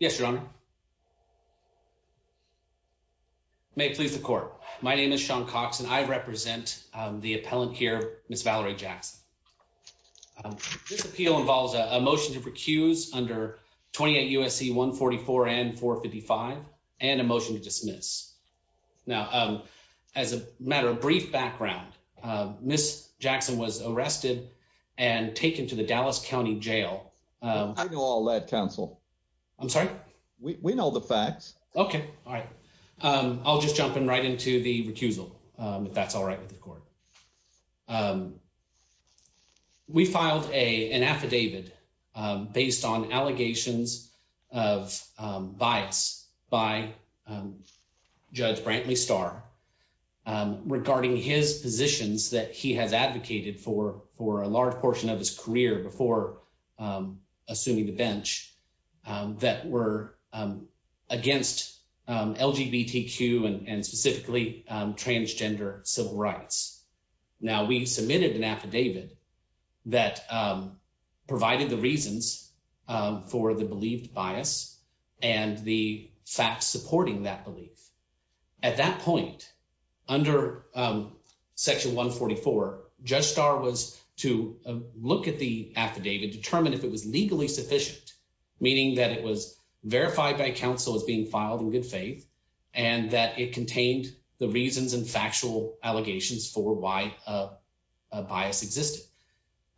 Yes your honor. May it please the court. My name is Sean Cox and I represent the appellant here, Ms. Valerie Jackson. This appeal involves a motion to recuse under 28 USC 144 and 455 and a motion to dismiss. Now as a matter of brief background, Ms. Jackson was arrested and taken to the Dallas County Jail. I know all that counsel. I'm sorry? We know the facts. Okay all right. I'll just jump in right into the recusal if that's all right with the court. We filed a an affidavit based on allegations of bias by Judge Brantley Starr regarding his positions that he has advocated for for a large portion of his career before assuming the bench that were against LGBTQ and specifically transgender civil rights. Now we submitted an affidavit that provided the reasons for the believed bias and the facts supporting that belief. At that point under section 144, Judge Starr was to look at the affidavit, determine if it was legally sufficient, meaning that it was verified by counsel as being filed in good faith and that it contained the reasons and factual allegations for why bias existed.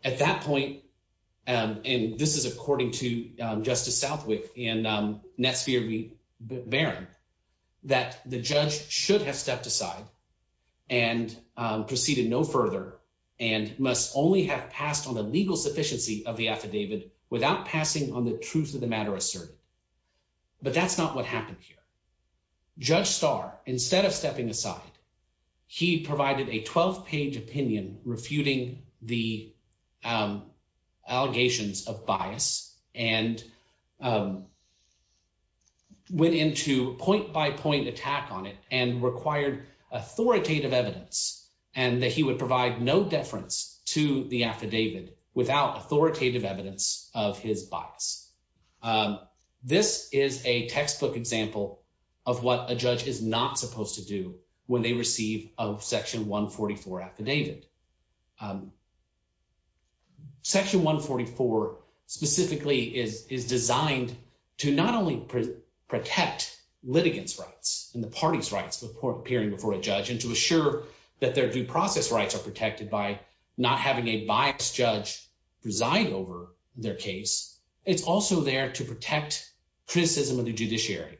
At that point and this is according to Justice Southwick and Netsphere Baron that the judge should have stepped aside and proceeded no further and must only have passed on the legal sufficiency of the affidavit without passing on the truth of the matter asserted. But that's not what happened here. Judge Starr instead of stepping aside, he provided a 12-page opinion refuting the allegations of bias and went into point by point attack on it and required authoritative evidence and that he would provide no deference to the affidavit without authoritative evidence of his bias. This is a textbook example of what a judge is not supposed to do when they receive a 144 affidavit. Section 144 specifically is designed to not only protect litigants rights and the party's rights before appearing before a judge and to assure that their due process rights are protected by not having a biased judge preside over their case, it's also there to protect criticism of the judiciary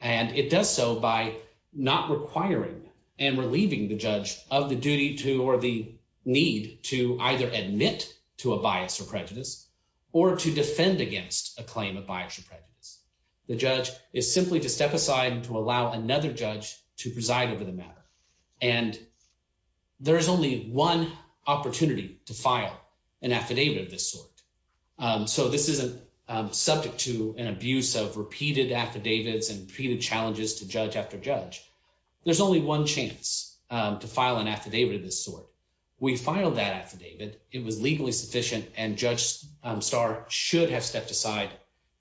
and it does so by not requiring and relieving the judge of the duty to or the need to either admit to a bias or prejudice or to defend against a claim of bias or prejudice. The judge is simply to step aside and to allow another judge to preside over the matter and there is only one opportunity to file an affidavit of this sort. We filed that affidavit, it was legally sufficient and Judge Starr should have stepped aside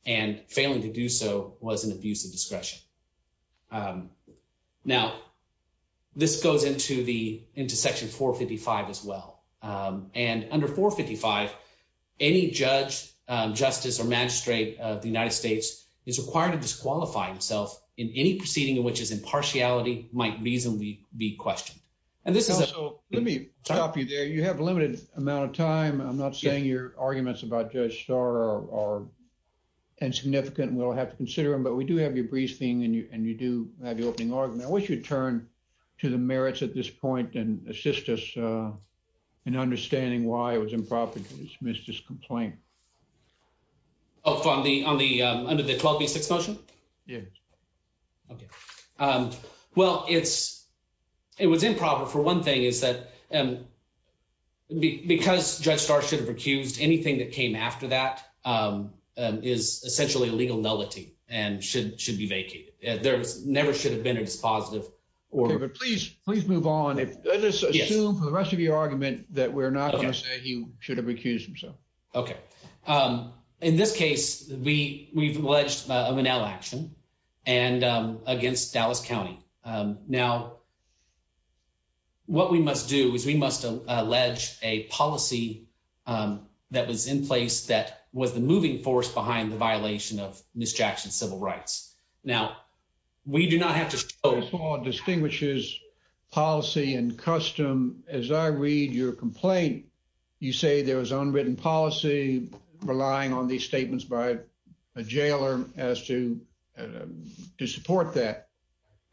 and failing to do so was an abuse of discretion. Now this goes into the into section 455 as well and under 455 any judge, justice or magistrate of the United States is required to disqualify himself in any proceeding in which his impartiality might reasonably be questioned. And this is a... So let me stop you there. You have a limited amount of time. I'm not saying your arguments about Judge Starr are insignificant and we'll have to consider them but we do have your brief thing and you do have your opening argument. I wish you would turn to the merits at this point and assist us in understanding why it was improper to dismiss this complaint. Oh, on the under the 12b6 motion? Yes. Okay. Well it's, it was improper for one thing is that because Judge Starr should have recused anything that came after that is essentially a legal nullity and should be vacated. There never should have been a dispositive order. Please, please move on. Let's assume for the rest of your argument that we're not going to say he should have recused himself. Okay. Um, in this case, we, we've alleged a manel action and, um, against Dallas County. Um, now what we must do is we must allege a policy, um, that was in place that was the moving force behind the violation of Ms. Jackson's civil rights. Now we do not have to... You say there was unwritten policy relying on these statements by a jailer as to, to support that.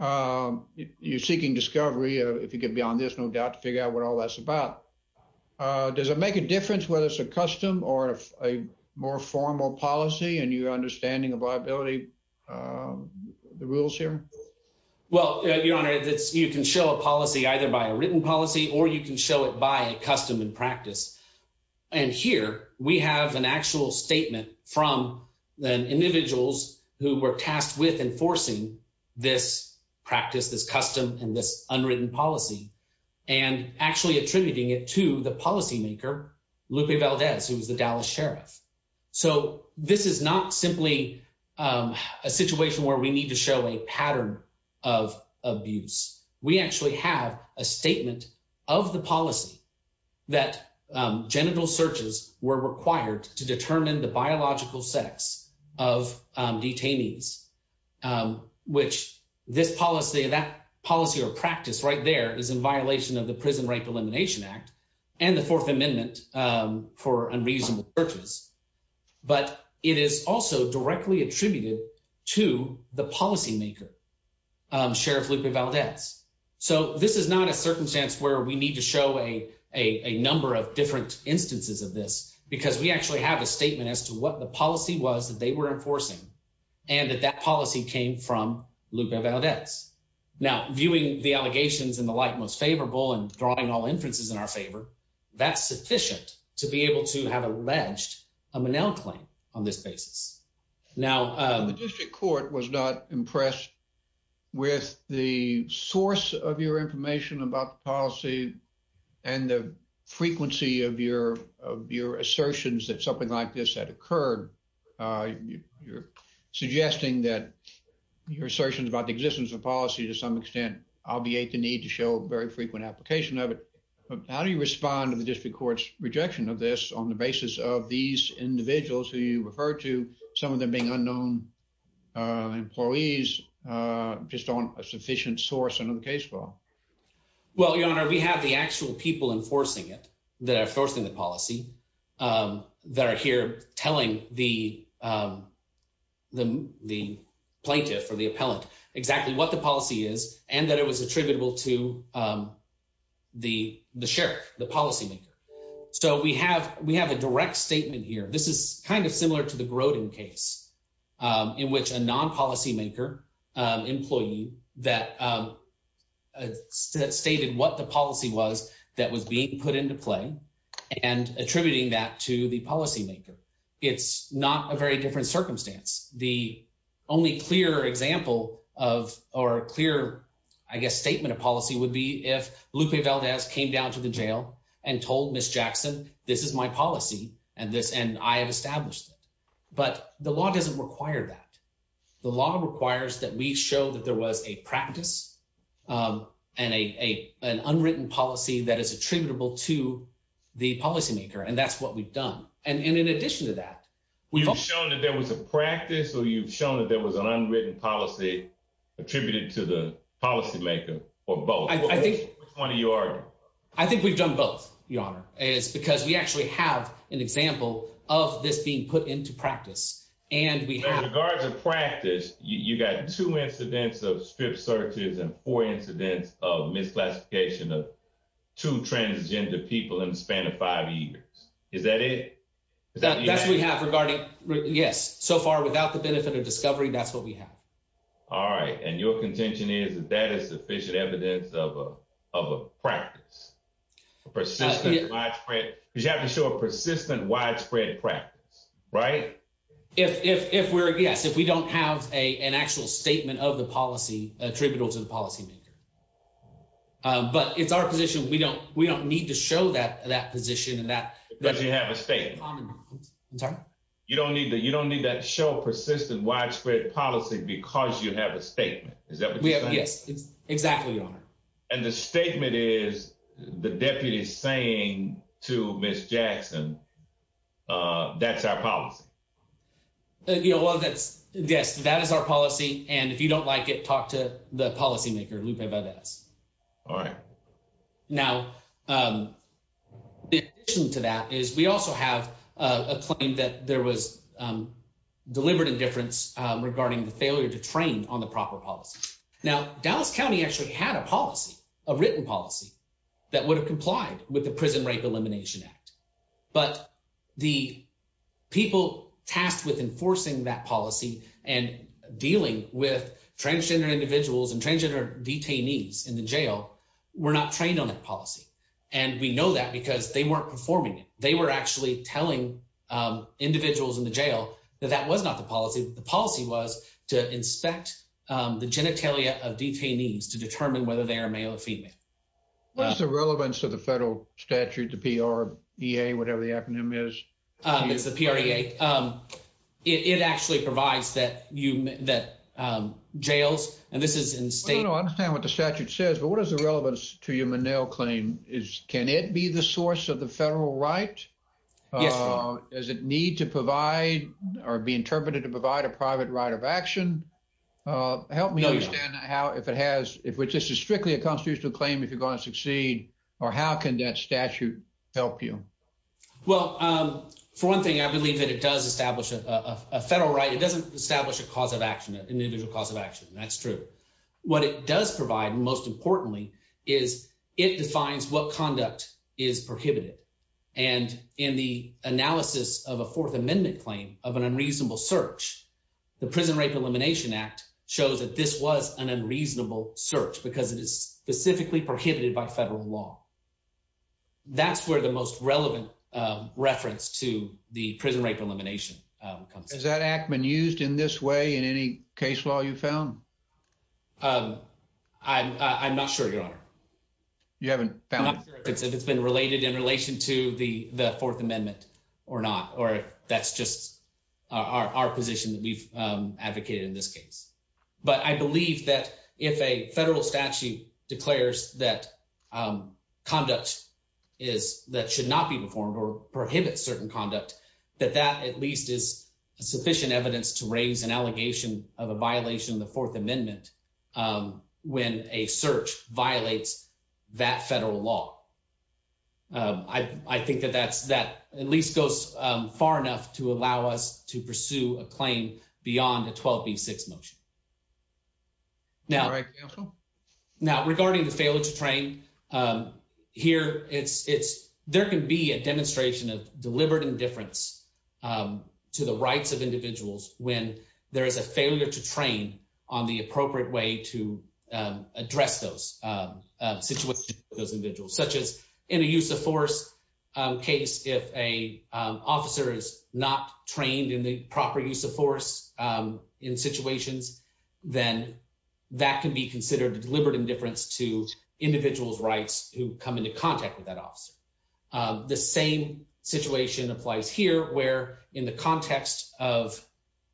Um, you're seeking discovery. If you could be on this, no doubt to figure out what all that's about. Uh, does it make a difference whether it's a custom or a more formal policy and your understanding of liability, um, the rules here? Well, your honor, that's, you can show a policy either by a written policy or you can show it by a custom and practice. And here we have an actual statement from the individuals who were tasked with enforcing this practice, this custom and this unwritten policy and actually attributing it to the policymaker, Lupe Valdez, who was the Dallas sheriff. So this is not simply, um, a situation where we need to show a pattern of abuse. We actually have a of the policy that, um, genital searches were required to determine the biological sex of, um, detainees, um, which this policy, that policy or practice right there is in violation of the Prison Rape Elimination Act and the Fourth Amendment, um, for unreasonable purchase. But it is also directly attributed to the policymaker, um, Sheriff Lupe Valdez. So this is not a need to show a number of different instances of this because we actually have a statement as to what the policy was that they were enforcing and that that policy came from Lupe Valdez. Now, viewing the allegations in the light most favorable and drawing all inferences in our favor, that's sufficient to be able to have alleged a Manel claim on this basis. Now, the district court was not impressed with the source of your information about policy and the frequency of your of your assertions that something like this had occurred. Uh, you're suggesting that your assertions about the existence of policy to some extent obviate the need to show very frequent application of it. How do you respond to the district court's rejection of this on the basis of these individuals who you refer to some of them being well, your honor, we have the actual people enforcing it that are forcing the policy, um, that are here telling the, um, the plaintiff for the appellant exactly what the policy is and that it was attributable to, um, the the sheriff, the policymaker. So we have we have a direct statement here. This is kind of similar to the groating case, um, in which a non policymaker employee that, um, uh, stated what the policy was that was being put into play and attributing that to the policymaker. It's not a very different circumstance. The only clear example of or clear, I guess, statement of policy would be if Lupe Valdez came down to the jail and told Miss Jackson, this is my policy and this and I have established it. But the law doesn't require that. The law requires that we show that there was a practice, um, and a an unwritten policy that is attributable to the policymaker. And that's what we've done. And in addition to that, we've shown that there was a practice. So you've shown that there was an unwritten policy attributed to the policymaker or both. I think one of your I think we've done both. Your honor is because we actually have an example of this being put into practice, and we have regards of practice. You got two incidents of strip searches and four incidents of misclassification of two transgender people in the span of five years. Is that it? That's what we have regarding. Yes. So far, without the benefit of discovery, that's what we have. All right. And your contention is that that is sufficient evidence of a practice. Persistence widespread. You if if if we're yes, if we don't have a an actual statement of the policy attributable to the policymaker, but it's our position. We don't. We don't need to show that that position and that because you have a state. I'm sorry. You don't need that. You don't need that show persistent widespread policy because you have a statement. Is that we have? Yes, exactly. And the statement is the deputy saying to Miss Jackson, uh, that's our policy. You know, well, that's yes, that is our policy. And if you don't like it, talk to the policymaker, Lupe Valdes. All right. Now, um, in addition to that is we also have a claim that there was, um, delivered indifference regarding the failure to train on the proper policy. Now, Dallas County actually had a policy, a written policy that would have complied with the Prison Rape Elimination Act. But the people tasked with enforcing that policy and dealing with transgender individuals and transgender detainees in the jail were not trained on that policy. And we know that because they weren't performing it. They were actually telling, um, individuals in the jail that that was not the policy. The policy was to inspect the genitalia of detainees to determine whether they are male or female. What is the relevance of the statute? The P. R. E. A. Whatever the acronym is, it's the period. Um, it actually provides that you that jails and this is in state. I understand what the statute says. But what is the relevance to human nail claim is? Can it be the source of the federal right? Uh, does it need to provide or be interpreted to provide a private right of action? Uh, help me understand how if it has if which this is strictly a constitutional claim, if you're gonna succeed, or how can that statute help you? Well, um, for one thing, I believe that it does establish a federal right. It doesn't establish a cause of action, an individual cause of action. That's true. What it does provide, most importantly, is it defines what conduct is prohibited. And in the analysis of a Fourth Amendment claim of an unreasonable search, the Prison Rape Elimination Act shows that this was an unreasonable search because it is specifically prohibited by federal law. That's where the most relevant reference to the prison rape elimination comes. Is that act been used in this way in any case law you found? Um, I'm not sure, Your Honor. You haven't found it's been related in relation to the Fourth Amendment or not, or that's just our position that we've advocated in this case. But I believe that if a federal statute declares that, um, conduct is that should not be performed or prohibit certain conduct, that that at least is a sufficient evidence to raise an allegation of a violation of the Fourth Amendment. Um, when a search violates that federal law, I think that that's that at least goes far enough to allow us to pursue a motion. Now, right now, regarding the failure to train, um, here it's there could be a demonstration of deliberate indifference, um, to the rights of individuals when there is a failure to train on the appropriate way to, um, address those, uh, situations, those individuals, such as in the use of force case. If a officer is not trained in the proper use of force, um, in situations, then that could be considered deliberate indifference to individuals rights who come into contact with that officer. Um, the same situation applies here, where in the context of,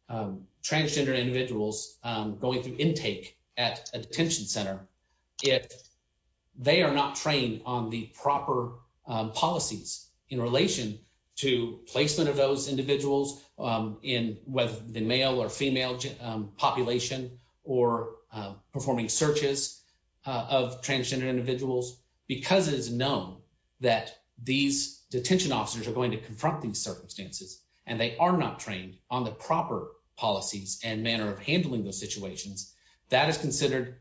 um, transgender individuals, um, going through intake at a detention center, if they are not trained on the proper policies in relation to placement of those individuals, um, in whether the population or performing searches of transgender individuals, because it is known that these detention officers are going to confront these circumstances and they are not trained on the proper policies and manner of handling the situations that is considered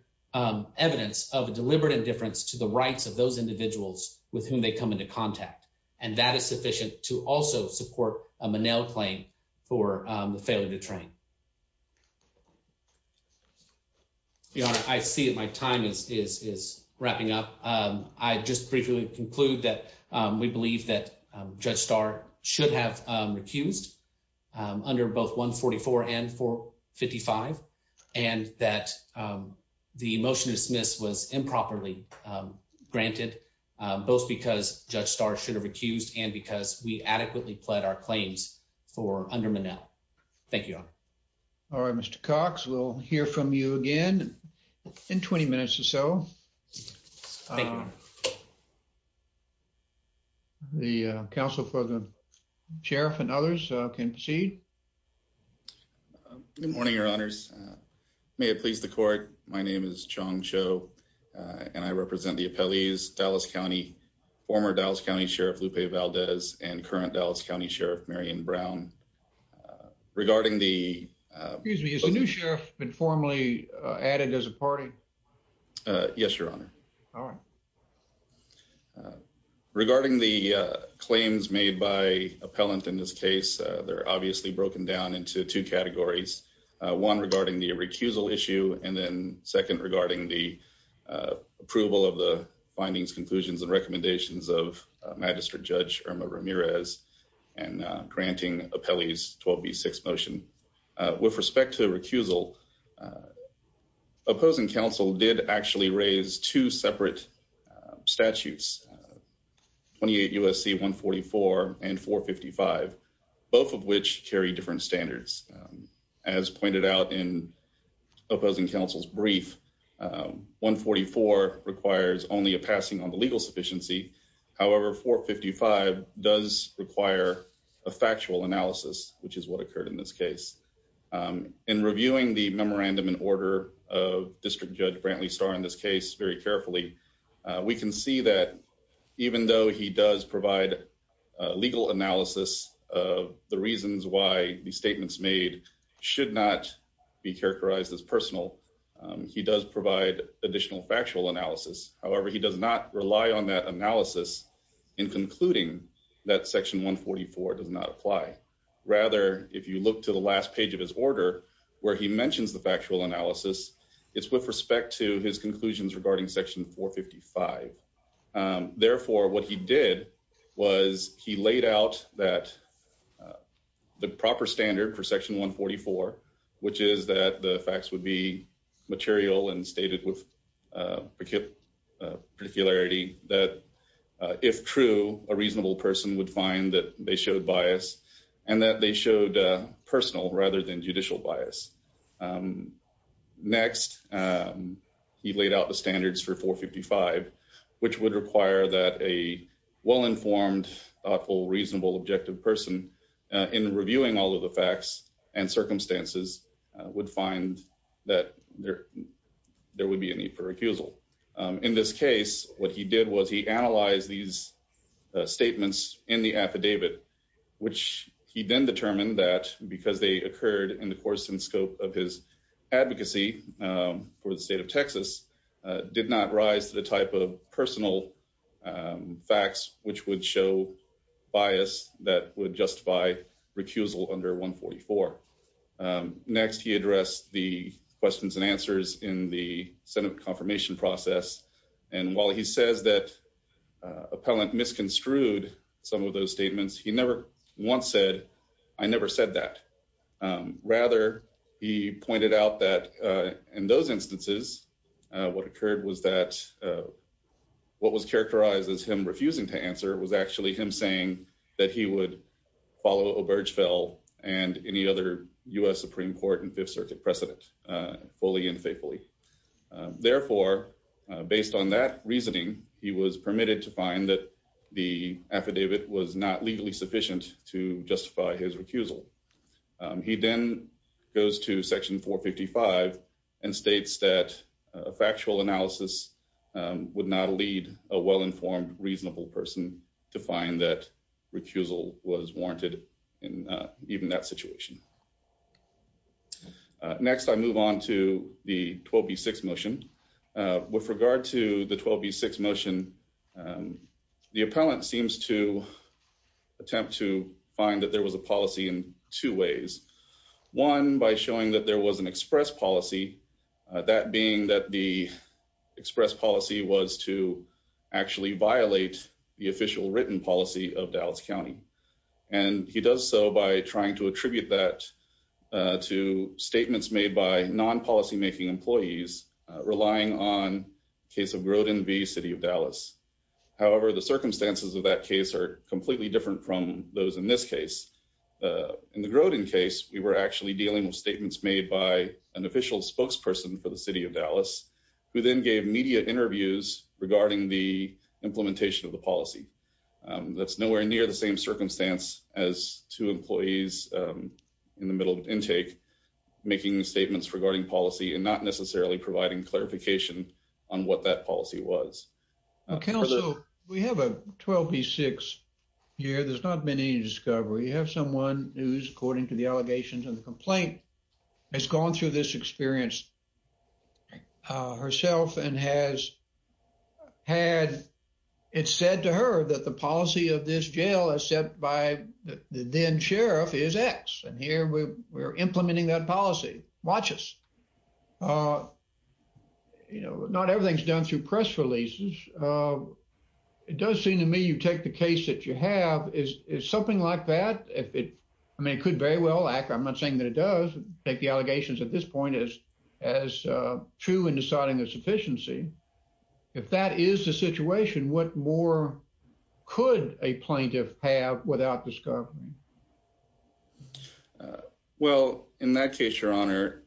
evidence of deliberate indifference to the rights of those individuals with whom they come into contact. And that is sufficient to also support a manel claim for the failure to train. Yeah, I see it. My time is wrapping up. Um, I just briefly conclude that we believe that Judge Starr should have recused under both 1 44 and 4 55 and that, um, the motion dismiss was improperly granted, both because Judge Starr should have recused and because we adequately pled our claims for under Manel. Thank you. All right, Mr Cox. We'll hear from you again in 20 minutes or so. The council for the sheriff and others can proceed. Good morning, Your Honors. May it please the court. My name is Chong Cho, and I am the current Dallas County Sheriff Lupe Valdez and current Dallas County Sheriff Marion Brown. Regarding the new sheriff been formally added as a party? Yes, Your Honor. All right. Regarding the claims made by appellant in this case, they're obviously broken down into two categories, one regarding the recusal issue and then second regarding the, uh, approval of the findings, conclusions and recommendations of Magistrate Judge Irma Ramirez and granting appellees 12 B six motion with respect to the recusal. Uh, opposing counsel did actually raise two separate statutes 28 U. S. C. 1 44 and 4 55, both of which carry different standards. As pointed out in opposing counsel's brief, 1 44 requires only a passing on the legal sufficiency. However, 4 55 does require a factual analysis, which is what occurred in this case. Um, in reviewing the memorandum in order of District Judge Brantley Star in this case very carefully, we can see that even though he does provide legal analysis of the reasons why the be characterized as personal, he does provide additional factual analysis. However, he does not rely on that analysis in concluding that section 1 44 does not apply. Rather, if you look to the last page of his order where he mentions the factual analysis, it's with respect to his conclusions regarding section 4 55. Therefore, what he did was he laid out that, uh, the proper standard for section 1 44, which is that the facts would be material and stated with, uh, particularity that if true, a reasonable person would find that they showed bias and that they showed personal rather than judicial bias. Um, next, um, he laid out the standards for 4 55, which would require that a well informed, thoughtful, reasonable, objective person in reviewing all of the facts and circumstances would find that there there would be a need for recusal. In this case, what he did was he analyzed these statements in the affidavit, which he then determined that because they occurred in the course and scope of his advocacy for the state of Texas did not rise to the type of personal, um, facts which would show bias that would justify recusal under 1 44. Next, he addressed the questions and answers in the Senate confirmation process. And while he says that appellant misconstrued some of those statements, he never once said I never said that. Um, rather, he pointed out that, uh, in those instances, what occurred was that, uh, what was characterized as him refusing to answer was actually him saying that he would follow Obergefell and any other U. S. Supreme Court and Fifth Circuit precedent fully and faithfully. Therefore, based on that reasoning, he was permitted to find that the affidavit was not legally sufficient to justify his recusal. He then goes to Section 4 55 and states that factual analysis would not lead a well informed, reasonable person to find that recusal was warranted in even that situation. Next, I move on to the 12 B six motion with regard to the 12 B six motion. Um, the appellant seems to attempt to find that there was a policy in two ways. One by showing that there was an express policy, that being that the express policy was to actually violate the official written policy of Dallas County. And he does so by trying to attribute that, uh, to statements made by non policymaking employees relying on case of Grodin v City of Dallas. However, the circumstances of that case are completely different from those in this case. Uh, in the Grodin case, we were actually dealing with statements made by an official spokesperson for the city of Dallas, who then gave media interviews regarding the implementation of the policy. Um, that's nowhere near the same circumstance as two employees, um, in the middle of intake, making statements regarding policy and not necessarily providing clarification on what that policy was. Okay. Also, we have a 12 B six year. There's not been any discovery. You have someone who's, according to the allegations of the complaint, has gone through this experience herself and has had. It's said to her that the policy of this jail is set by the then sheriff is X. And here we were implementing that policy. Watch us. Uh, you know, not everything's done through press releases. Uh, it does seem to me you take the case that you have is something like that. If it I mean, it could very well act. I'm not saying that it does take the as true in deciding a sufficiency. If that is the situation, what more could a plaintiff have without discovery? Uh, well, in that case, your honor,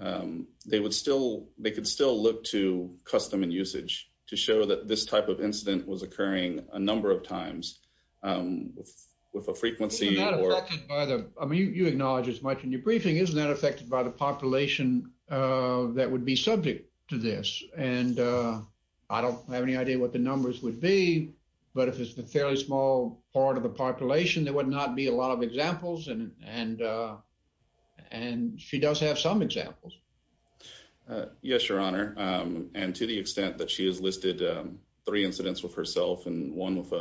um, they would still they could still look to custom and usage to show that this type of incident was occurring a number of times, um, with a frequency or by the I mean, you acknowledge as much in briefing, isn't that affected by the population that would be subject to this? And, uh, I don't have any idea what the numbers would be. But if it's a fairly small part of the population, there would not be a lot of examples. And, uh, and she does have some examples. Uh, yes, your honor. And to the extent that she has listed three incidents with herself and one with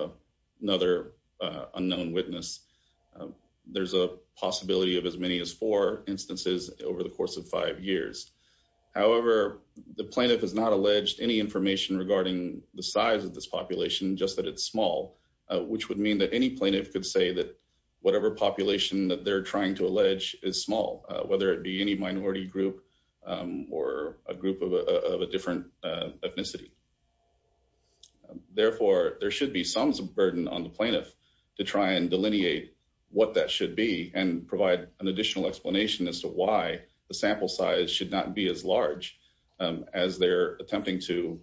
another unknown witness, there's a possibility of as many as four instances over the course of five years. However, the plaintiff has not alleged any information regarding the size of this population, just that it's small, which would mean that any plaintiff could say that whatever population that they're trying to allege is small, whether it be any minority group or a group of a different ethnicity. Therefore, there should be some burden on the plaintiff to try and delineate what that should be and provide an additional explanation as to why the sample size should not be as large as they're attempting to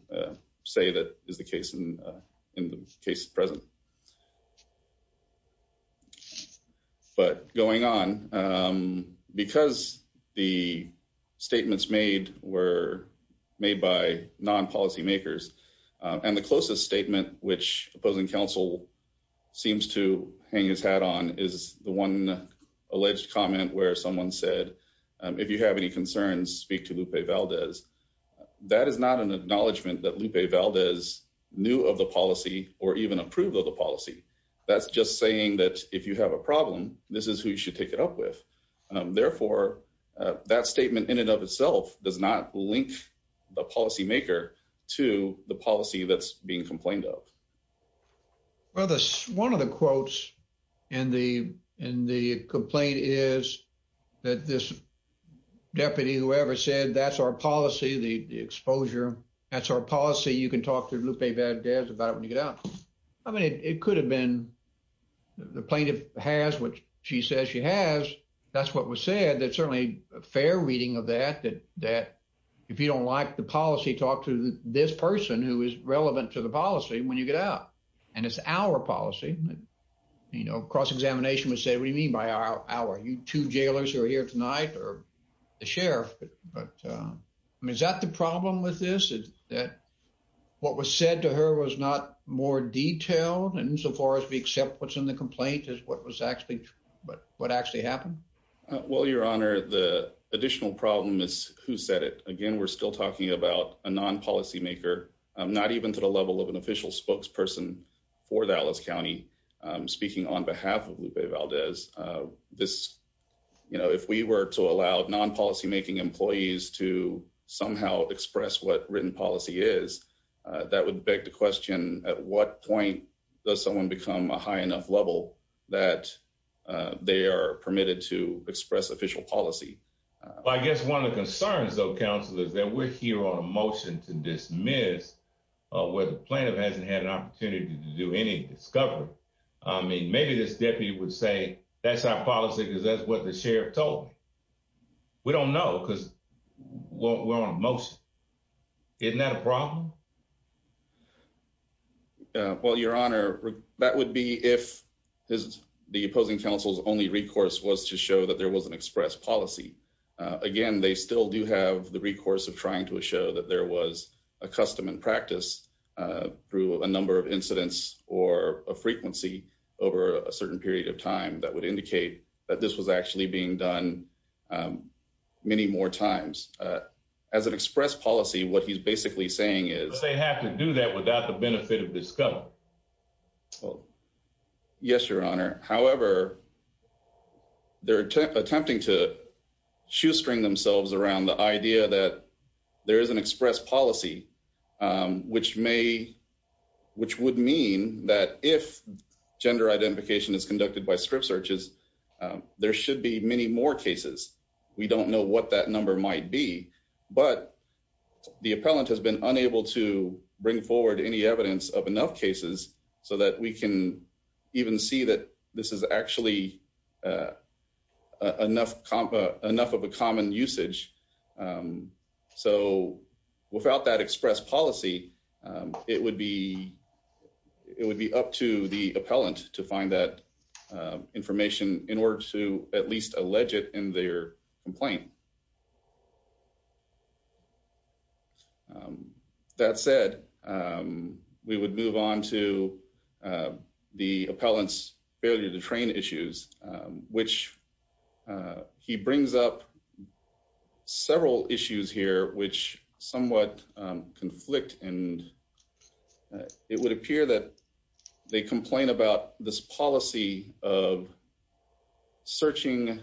say that is the case in the case present. But going on, um, because the statements made were made by non policymakers on the closest statement, which opposing counsel seems to hang his hat on, is the one alleged comment where someone said, if you have any concerns, speak to Lupe Valdez. That is not an acknowledgement that Lupe Valdez knew of the policy or even approved of the policy. That's just saying that if you have a problem, this is who you should take it up with. Therefore, that statement in and of itself does not link the policymaker to the policy that's being complained of. Well, this one of the quotes and the and the complaint is that this deputy whoever said that's our policy, the exposure, that's our policy. You can talk to Lupe Valdez about it when you get out. I mean, it could have been the plaintiff has what she says she has. That's what was said. That's certainly a fair reading of that, that that if you don't like the policy, talk to this person who is relevant to the policy when you get out. And it's our policy. You know, cross examination would say, What do you mean by our hour? You two jailers who are here tonight or the sheriff. But I mean, is that the problem with this is that what was said to her was not more detailed insofar as we accept what's in the complaint is what was actually but what actually happened? Well, your honor, the additional problem is who said it again. We're still talking about a non policymaker, not even to the level of an official spokesperson for Dallas County. Um, speaking on behalf of Lupe Valdez. Uh, this, you know, if we were to allow non policymaking employees to somehow express what written policy is, that would beg the question. At what point does someone become a high enough level that they are permitted to express official policy? I guess one of the concerns, though, counselors that we're here on a motion to dismiss where the plaintiff hasn't had an opportunity to do any discovery. I mean, maybe this deputy would say that's totally. We don't know because we're on a motion. Isn't that a problem? Well, your honor, that would be if his the opposing counsel's only recourse was to show that there was an express policy again. They still do have the recourse of trying to show that there was a custom and practice through a number of incidents or a frequency over a certain period of time that would um, many more times. Uh, as an express policy, what he's basically saying is they have to do that without the benefit of discovery. Well, yes, your honor. However, they're attempting to shoestring themselves around the idea that there is an express policy, um, which may which would mean that if gender more cases, we don't know what that number might be. But the appellant has been unable to bring forward any evidence of enough cases so that we can even see that this is actually, uh, enough, enough of a common usage. Um, so without that express policy, um, it would be, it would be up to the budget in their complaint. Um, that said, um, we would move on to, uh, the appellant's failure to train issues, which, uh, he brings up several issues here, which somewhat, um, conflict. And it would appear that they complain about this policy of searching,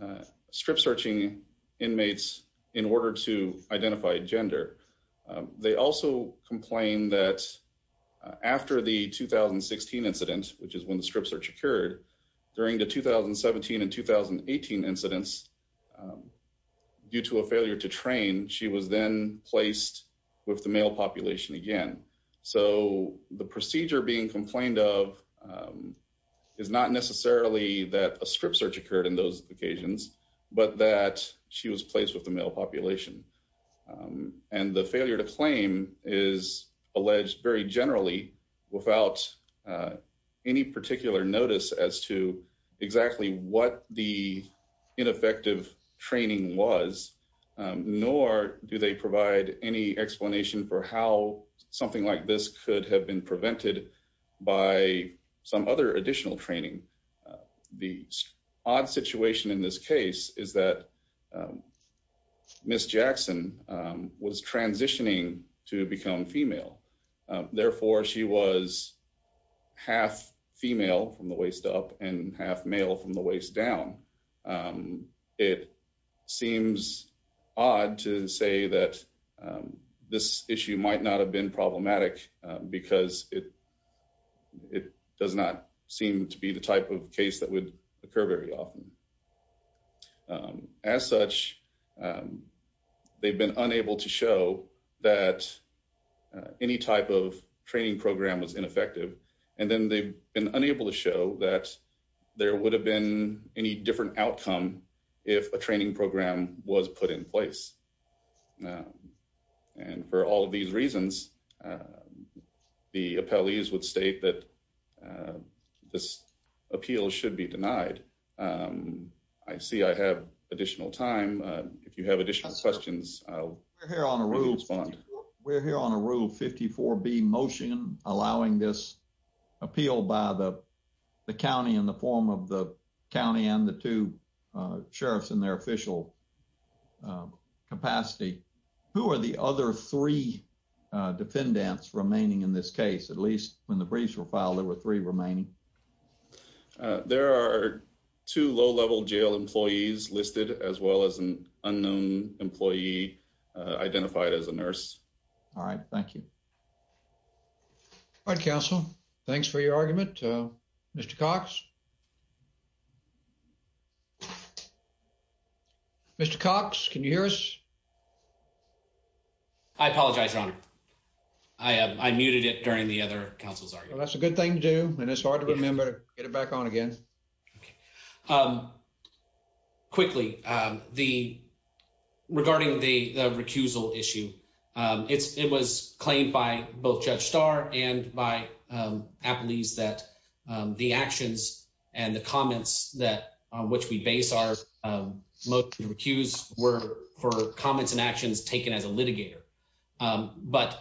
uh, strip searching inmates in order to identify gender. Um, they also complain that after the 2016 incident, which is when the strip search occurred during the 2017 and 2018 incidents, um, due to a failure to train, she was then placed with the male population again. So the procedure being complained of, um, is not necessarily that a strip search occurred in those occasions, but that she was placed with the male population. Um, and the failure to claim is alleged very generally without, uh, any particular notice as to exactly what the ineffective training was. Um, nor do they provide any explanation for how something like this could have been prevented by some other additional training. The odd situation in this case is that, um, Miss Jackson, um, was transitioning to become female. Therefore, she was half female from the waist up and half male from the waist down. Um, it seems odd to say that, um, this issue might not have been problematic because it does not seem to be the type of case that would occur very often. Um, as such, um, they've been unable to show that any type of training program was ineffective, and then they've been unable to show that there would have been any different outcome if a training program was put in place. And for all of these reasons, uh, the appellees would state that, uh, this appeal should be denied. Um, I see I have additional time. If you have additional questions, we're here on a rule. We're here on a rule. 54 be motion allowing this appeal by the county in the form of the county and the two sheriffs in their official capacity. Who are the other three defendants remaining in this case? At least when the briefs were filed, there were three remaining. There are two low level jail employees listed as well as an unknown employee identified as a nurse. All right. Thank you. All right, Council. Thanks for your argument, Mr Cox. Yeah. Mr Cox. Can you hear us? I apologize. I am. I muted it during the other councils are. That's a good thing to do, and it's hard to remember. Get it back on again. Okay. Um, quickly, the regarding the recusal issue. Um, it was claimed by both Judge Starr and by, um, at least that, um, the actions and the comments that which we base are, um, most recused were for comments and actions taken as a litigator. Um, but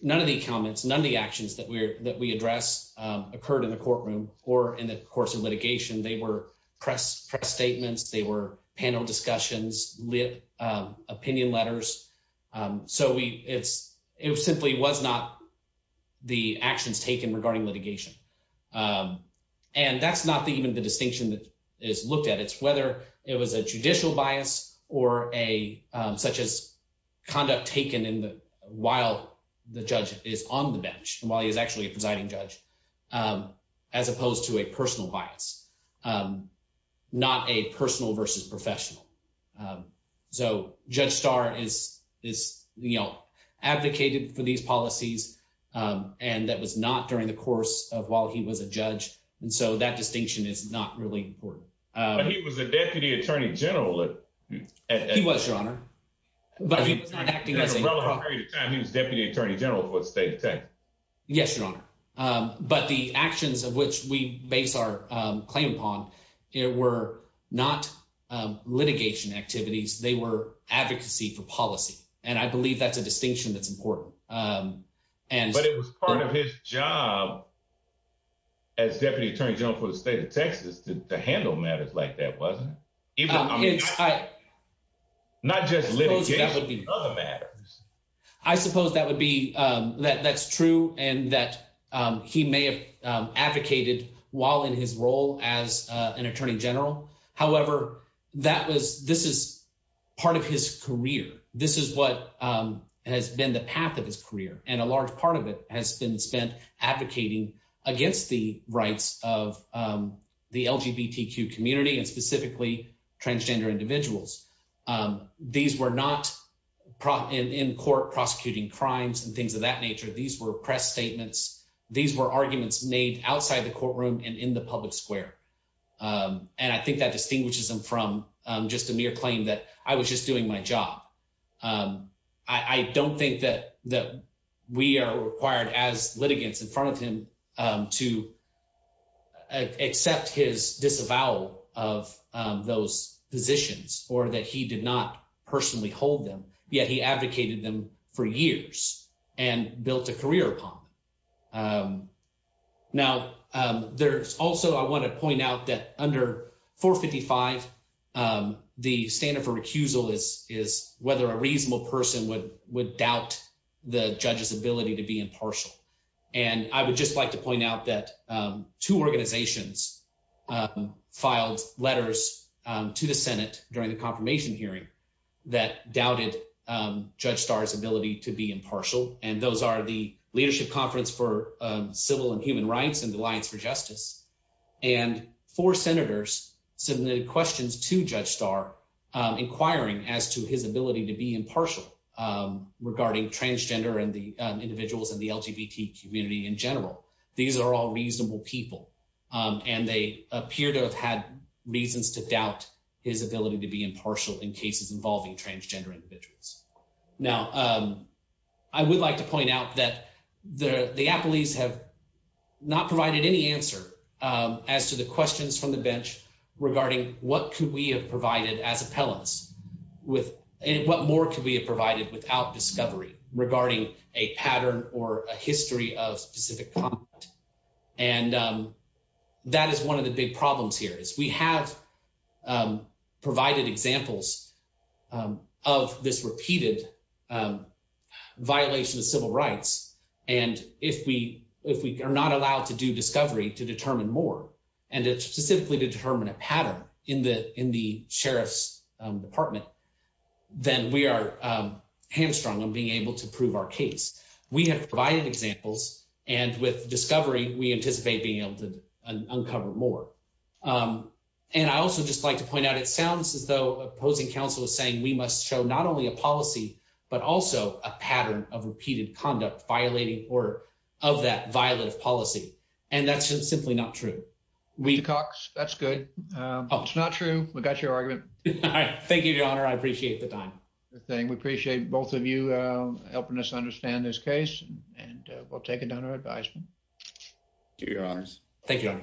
none of the comments. None of the actions that we're that we address occurred in the courtroom or in the course of litigation. They were press press statements. They were panel discussions, lit opinion letters. Um, so we it's simply was not the actions taken regarding litigation. Um, and that's not even the distinction that is looked at. It's whether it was a judicial bias or a such as conduct taken in the while the judge is on the bench while he's actually presiding judge. Um, as opposed to a personal advocated for these policies. Um, and that was not during the course of while he was a judge. And so that distinction is not really important. But he was a deputy attorney general. It was your honor, but he was not acting as a relative time. He was deputy attorney general for state attack. Yes, your honor. But the actions of which we base our claim upon it were not litigation activities. They were advocacy for policy, and I believe that's a distinction that's important. Um, and but it was part of his job as deputy attorney general for the state of Texas to handle matters like that wasn't even I'm not just litigating other matters. I suppose that would be, um, that that's true and that he may have advocated while in his role as an attorney general. However, that was this is part of his career. This is what has been the path of his career, and a large part of it has been spent advocating against the rights of, um, the LGBTQ community and specifically transgender individuals. Um, these were not in court prosecuting crimes and things of that nature. These were press statements. These were public square. Um, and I think that distinguishes them from just a mere claim that I was just doing my job. Um, I don't think that that we are required as litigants in front of him, um, to accept his disavowal of those positions or that he did not personally hold them. Yet he advocated them for years and built a career upon. Um, now, um, there's also I want to point out that under 4 55, um, the standard for recusal is is whether a reasonable person would would doubt the judge's ability to be impartial. And I would just like to point out that, um, two organizations, um, filed letters to the Senate during the confirmation hearing that doubted Judge Stars ability to be impartial. And those are the leadership Conference for Civil and Human Rights and Alliance for Justice. And four senators submitted questions to Judge Star, um, inquiring as to his ability to be impartial, um, regarding transgender and the individuals in the LGBT community in general. These are all reasonable people, and they appear to have had reasons to doubt his ability to be impartial in cases involving transgender individuals. Now, um, I would like to point out that the Apple ease have not provided any answer as to the questions from the bench regarding what could we have provided as appellants with? What more could we have provided without discovery regarding a pattern or a history of specific? And, um, that is one of the big problems here is we have, um, of this repeated, um, violation of civil rights. And if we if we are not allowed to do discovery to determine more, and it's specifically to determine a pattern in the in the sheriff's department, then we are, um, hamstrung on being able to prove our case. We have provided examples, and with discovery, we anticipate being able to uncover more. Um, and I also just like to point out, it sounds as though opposing counsel is saying we must show not only a policy but also a pattern of repeated conduct violating order of that violent policy. And that's just simply not true. We cocks. That's good. It's not true. We got your argument. Thank you, Your Honor. I appreciate the time thing. We appreciate both of you helping us understand this case, and we'll take it down to advisement. Do your arms. Thank you.